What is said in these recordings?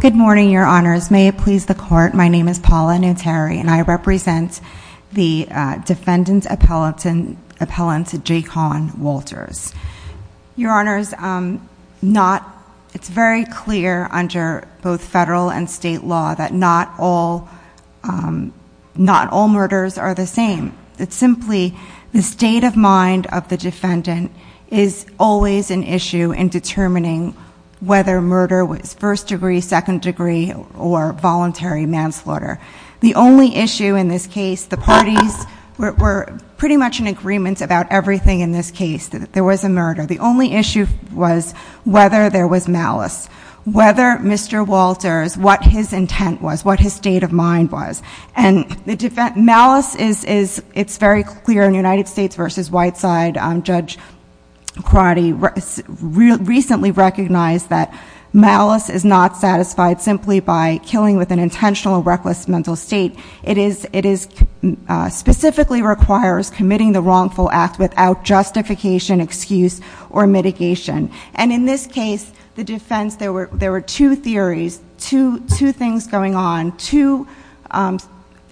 Good morning, your honors. May it please the court, my name is Paula Nutteri and I represent the defendant's appellant Jake Hawn Walters. Your honors, it's very clear under both federal and state law that not all murders are the same. It's simply the state of mind of the defendant is always an issue in determining whether murder was first degree, second degree, or voluntary manslaughter. The only issue in this case, the parties were pretty much in agreement about everything in this case, that there was a murder. The only issue was whether there was malice. Whether Mr. Walters, what his intent was, what his state of mind was. Malice is very clear in United States v. Whiteside. Judge Crotty recently recognized that malice is not satisfied simply by killing with an intentional and reckless mental state. It specifically requires committing the wrongful act without justification, excuse, or mitigation. And in this case, the defense, there were two theories, two things going on, two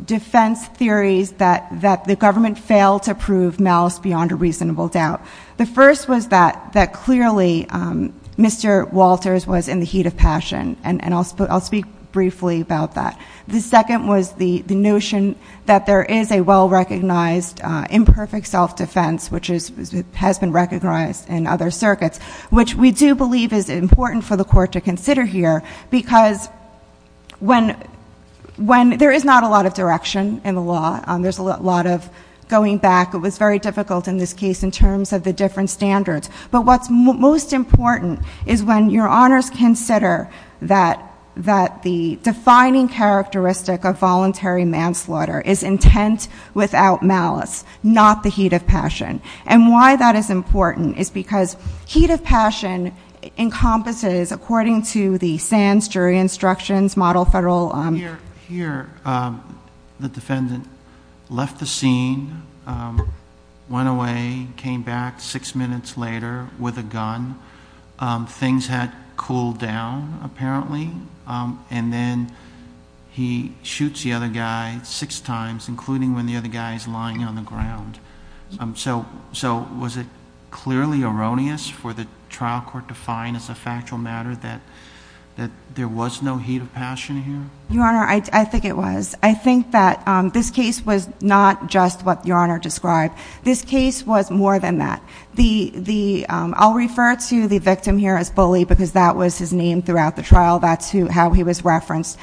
defense theories that the government failed to prove malice beyond a reasonable doubt. The first was that clearly Mr. Walters was in the briefly about that. The second was the notion that there is a well-recognized imperfect self-defense which has been recognized in other circuits, which we do believe is important for the court to consider here because when, there is not a lot of direction in the law. There's a lot of going back. It was very difficult in this case in terms of the different standards. But what's most important is when your honors consider that the defining characteristic of voluntary manslaughter is intent without malice, not the heat of passion. And why that is important is because heat of passion encompasses, according to the SANS jury instructions, model federal... Here, the defendant left the scene, went away, came back six minutes later with a gun. Things had cooled down apparently. And then he shoots the other guy six times, including when the other guy is lying on the ground. So was it clearly erroneous for the trial court to find as factual matter that there was no heat of passion here? Your honor, I think it was. I think that this case was not just what your honor described. This case was more than that. I'll refer to the victim here as Bully because that was his name throughout the trial. That's how he was referenced.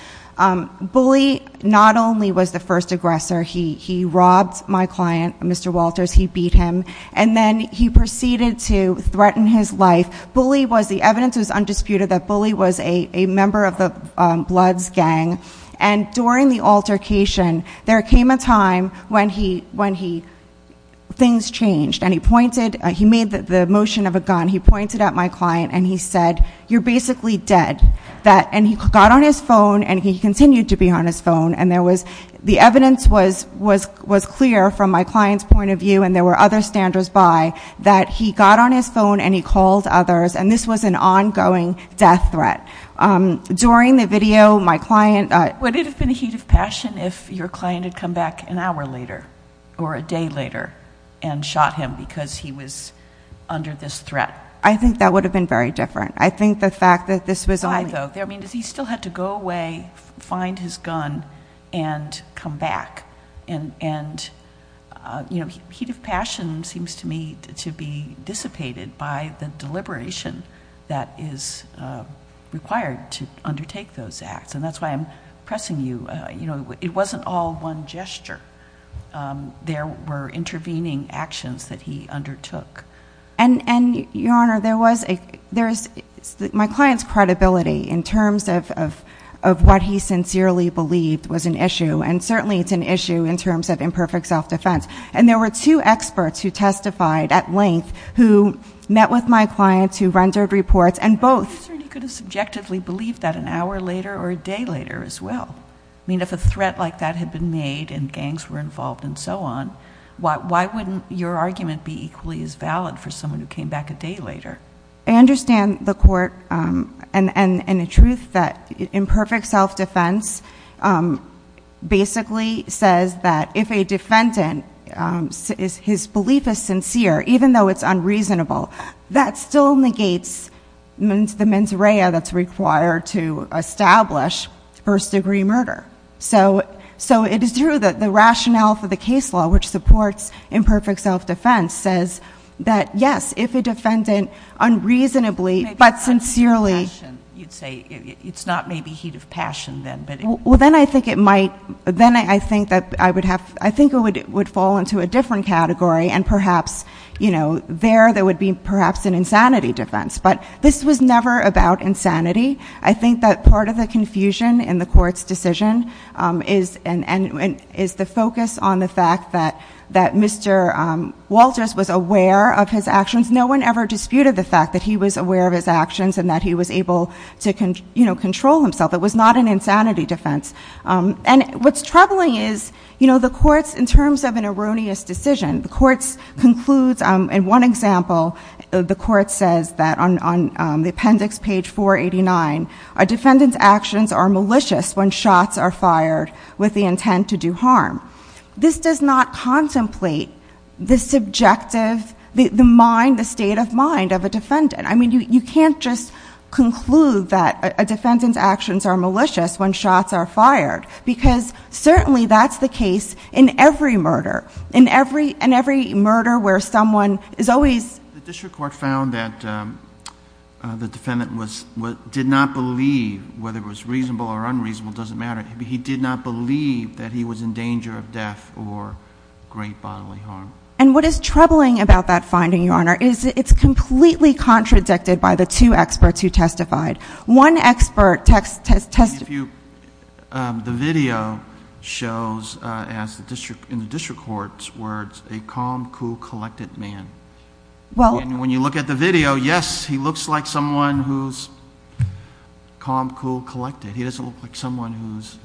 Bully not only was the first aggressor. He robbed my client, Mr. Walters. He beat him. And then he proceeded to threaten his life. The evidence was undisputed that Bully was a member of the Bloods gang. And during the altercation, there came a time when things changed. And he made the motion of a gun. He pointed at my client and he said, you're basically dead. And he got on his phone and he continued to be on his phone. And the was clear from my client's point of view, and there were other standers by, that he got on his phone and he called others. And this was an ongoing death threat. During the video, my client... Would it have been a heat of passion if your client had come back an hour later or a day later and shot him because he was under this threat? I think that would have been very different. I think the fact that this was only... Why though? I mean, he still had to go away, find his gun and come back. And heat of passion seems to me to be dissipated by the deliberation that is required to undertake those acts. And that's why I'm pressing you. It wasn't all one gesture. There were intervening actions that he undertook. And Your Honor, there was a... In terms of what he sincerely believed was an issue, and certainly it's an issue in terms of imperfect self-defense. And there were two experts who testified at length, who met with my clients, who rendered reports and both... You could have subjectively believed that an hour later or a day later as well. I mean, if a threat like that had been made and gangs were involved and so on, why wouldn't your argument be equally as valid for someone who came back a day later? I understand the court and the truth that imperfect self-defense basically says that if a defendant, his belief is sincere, even though it's unreasonable, that still negates the mens rea that's required to establish first degree murder. So it is true that the rationale for the case law, which supports imperfect self-defense, says that yes, if a defendant unreasonably, but sincerely... You'd say it's not maybe heat of passion then, but... Well, then I think it might... Then I think that I would have... I think it would fall into a different category and perhaps there that would be perhaps an insanity defense. But this was never about insanity. I think that part of the confusion in the court's decision is the focus on the fact that Mr. Walters was aware of his actions. No one ever disputed the fact that he was aware of his actions and that he was able to control himself. It was not an insanity defense. And what's troubling is the courts, in terms of an erroneous decision, the courts says that on the appendix page 489, a defendant's actions are malicious when shots are fired with the intent to do harm. This does not contemplate the subjective, the mind, the state of mind of a defendant. I mean, you can't just conclude that a defendant's actions are malicious when shots are fired because certainly that's the case in every murder, in every murder where someone is always... The district court found that the defendant did not believe, whether it was reasonable or unreasonable, it doesn't matter. He did not believe that he was in danger of death or great bodily harm. And what is troubling about that finding, Your Honor, is it's completely contradicted by the two experts who testified. One expert testified... The video shows in the video, yes, he looks like someone who's calm, cool, collected. He doesn't look like someone who's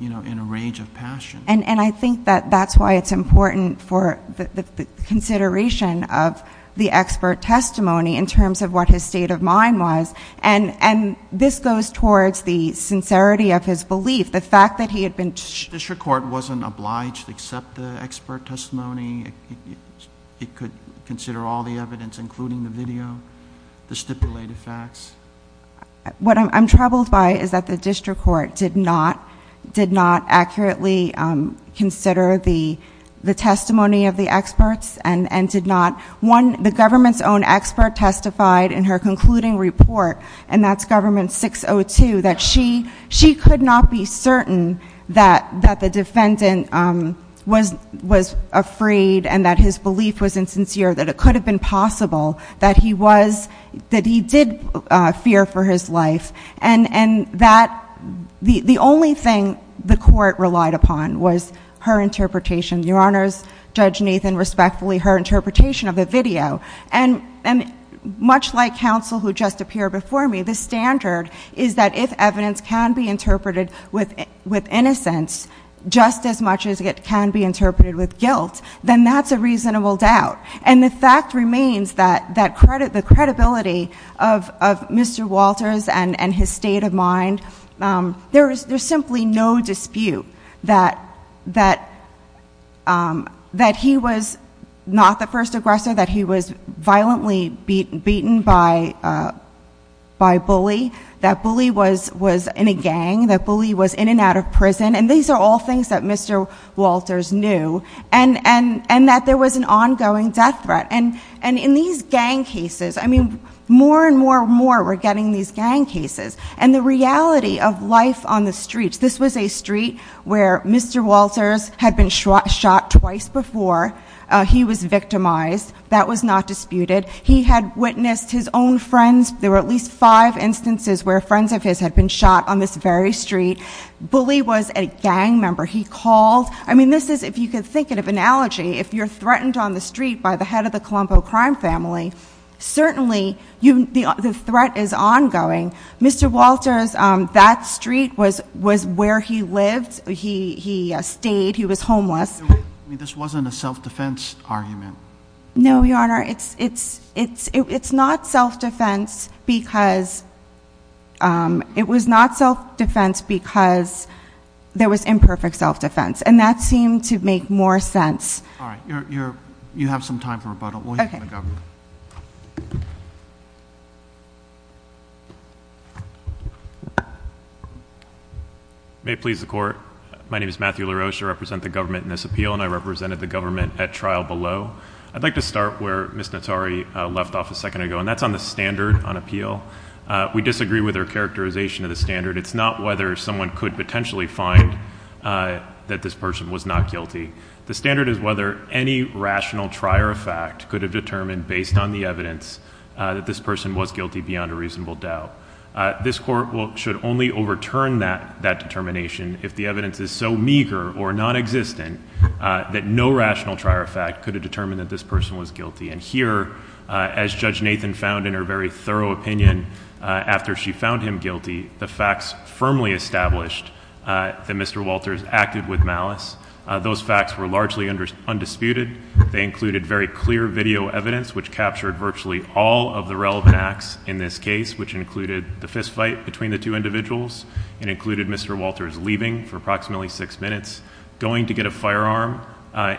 in a rage of passion. And I think that that's why it's important for the consideration of the expert testimony in terms of what his state of mind was. And this goes towards the sincerity of his belief, the fact that he had been... The district court wasn't obliged to accept the consider all the evidence, including the video, the stipulated facts. What I'm troubled by is that the district court did not accurately consider the testimony of the experts and did not... One, the government's own expert testified in her concluding report, and that's government 602, that she could not be certain that the defendant was afraid and that his belief was insincere, that it could have been possible that he was... That he did fear for his life. And that the only thing the court relied upon was her interpretation. Your Honors, Judge Nathan respectfully, her interpretation of the video. And much like counsel who just appeared before me, the standard is that if evidence can be then that's a reasonable doubt. And the fact remains that the credibility of Mr. Walters and his state of mind, there's simply no dispute that he was not the first aggressor, that he was violently beaten by a bully, that bully was in a gang, that bully was in and out of prison. And these are all things that Mr. Walters knew, and that there was an ongoing death threat. And in these gang cases, more and more and more we're getting these gang cases. And the reality of life on the streets, this was a street where Mr. Walters had been shot twice before. He was victimized. That was not disputed. He had witnessed his own friends. There were at least five instances where friends of his had been shot on this very street. Bully was a gang member. He called, I mean, this is, if you could think of an analogy, if you're threatened on the street by the head of the Colombo crime family, certainly the threat is ongoing. Mr. Walters, that street was where he lived. He stayed. He was homeless. I mean, this wasn't a self-defense argument. No, Your Honor, it's not self-defense because, it was not self-defense because there was imperfect self-defense. And that seemed to make more sense. All right, you're, you have some time for rebuttal. We'll hear from the government. May it please the court. My name is Matthew LaRoche. I represent the government in this appeal, and I represented the government at trial below. I'd like to start where Ms. Notari left off a second ago, and that's on the standard on appeal. We disagree with her characterization of the standard. It's not whether someone could potentially find that this person was not guilty. The standard is whether any rational trier of fact could have determined, based on the evidence, that this person was guilty beyond a reasonable doubt. This court should only overturn that determination if the evidence is so meager or non-existent that no rational trier of fact could have determined that this person was guilty. And here, as Judge Nathan found in her very thorough opinion, after she found him guilty, the facts firmly established that Mr. Walters acted with malice. Those facts were largely undisputed. They included very clear video evidence, which captured virtually all of the relevant acts in this case, which included the fistfight between the two individuals, and included Mr. Walters leaving for approximately six minutes, going to get a firearm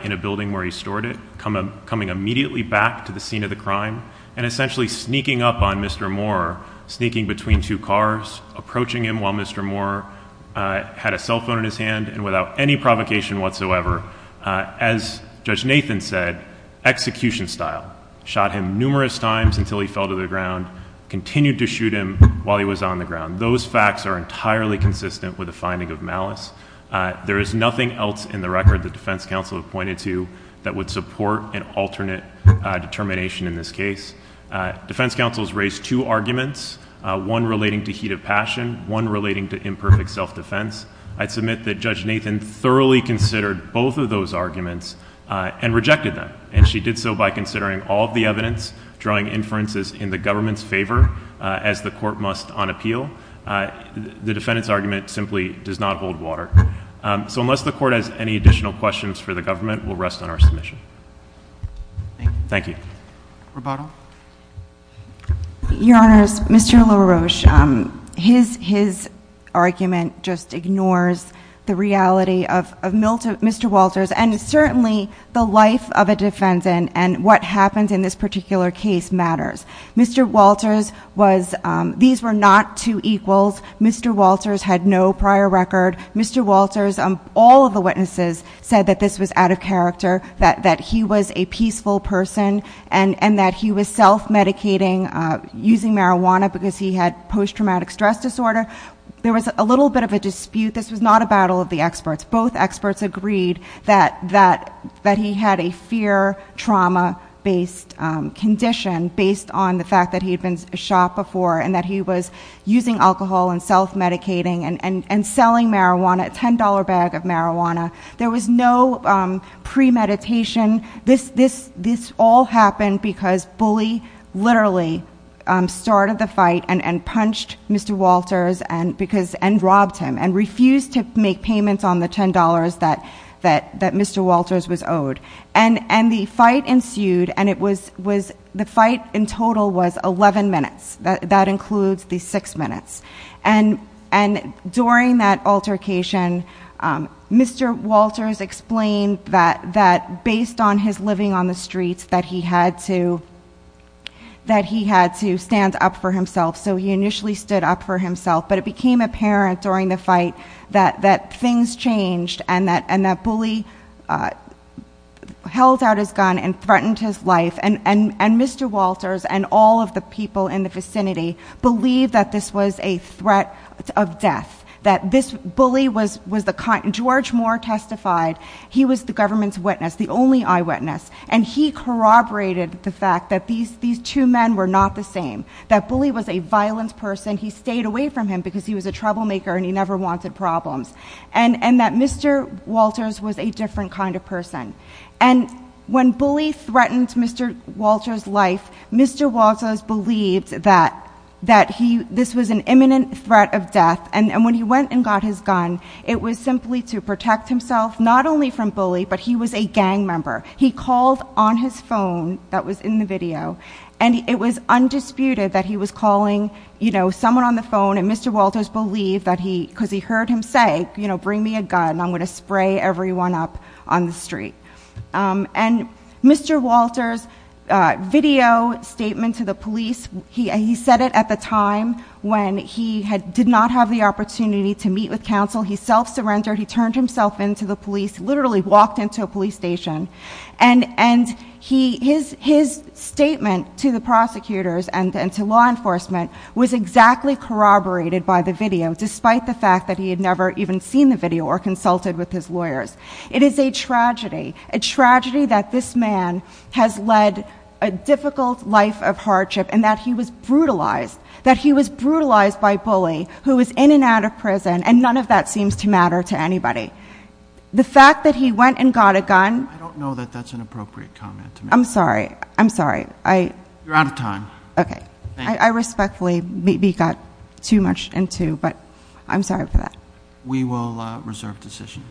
in a building where he stored it, coming immediately back to the scene of the crime, and essentially sneaking up on Mr. Moore, sneaking between two cars, approaching him while Mr. Moore had a cell phone in his hand, and without any provocation whatsoever. As Judge Nathan said, execution style. Shot him numerous times until he fell to the ground, continued to shoot him while he was on the ground. Those facts are entirely consistent with the finding of malice. There is nothing else in the defense counsel have pointed to that would support an alternate determination in this case. Defense counsels raised two arguments, one relating to heat of passion, one relating to imperfect self-defense. I'd submit that Judge Nathan thoroughly considered both of those arguments and rejected them. And she did so by considering all of the evidence, drawing inferences in the government's favor, as the court must on appeal. The defendant's argument simply does not hold water. So unless the court has any additional questions for the government, we'll rest on our submission. Thank you. Your Honor, Mr. LaRoche, his argument just ignores the reality of Mr. Walters, and certainly the life of a defendant and what happens in this particular case matters. Mr. Walters was, these were not two equals. Mr. Walters had no prior record. Mr. Walters, all of the witnesses said that this was out of character, that he was a peaceful person, and that he was self-medicating using marijuana because he had post-traumatic stress disorder. There was a little bit of a dispute. This was not a battle of the experts. Both experts agreed that he had a fear-trauma-based condition based on the fact that he had been shot before and that he was using alcohol and self-medicating and selling marijuana, a $10 bag of marijuana. There was no premeditation. This all happened because Bully literally started the fight and robbed him and refused to make payments on the $10 that Mr. Walters was owed. The fight ensued, and the fight in total was 11 minutes. That includes the six minutes. During that altercation, Mr. Walters explained that, based on his living on the streets, that he had to stand up for during the fight, that things changed, and that Bully held out his gun and threatened his life. Mr. Walters and all of the people in the vicinity believed that this was a threat of death. George Moore testified. He was the government's witness, the only eyewitness. He corroborated the fact that these two men were not the same, that Bully was a violent person. He stayed away from him because he was a troublemaker and he never wanted problems, and that Mr. Walters was a different kind of person. When Bully threatened Mr. Walters' life, Mr. Walters believed that this was an imminent threat of death. When he went and got his gun, it was simply to protect himself, not only from Bully, but he was a gang member. He called on his phone that was in the video, and it was undisputed that he was calling someone on the phone, and Mr. Walters believed that he, because he heard him say, bring me a gun. I'm going to spray everyone up on the street. Mr. Walters' video statement to the police, he said it at the time when he did not have the opportunity to meet with counsel. He self-surrendered. He turned himself in to the prosecutors and to law enforcement, was exactly corroborated by the video, despite the fact that he had never even seen the video or consulted with his lawyers. It is a tragedy, a tragedy that this man has led a difficult life of hardship and that he was brutalized, that he was brutalized by Bully, who was in and out of prison, and none of that seems to matter to anybody. The fact that he went and got a gun... I don't know that that's an appropriate comment. I'm sorry, I'm sorry. You're out of time. Okay, I respectfully got too much into, but I'm sorry for that. We will reserve decision.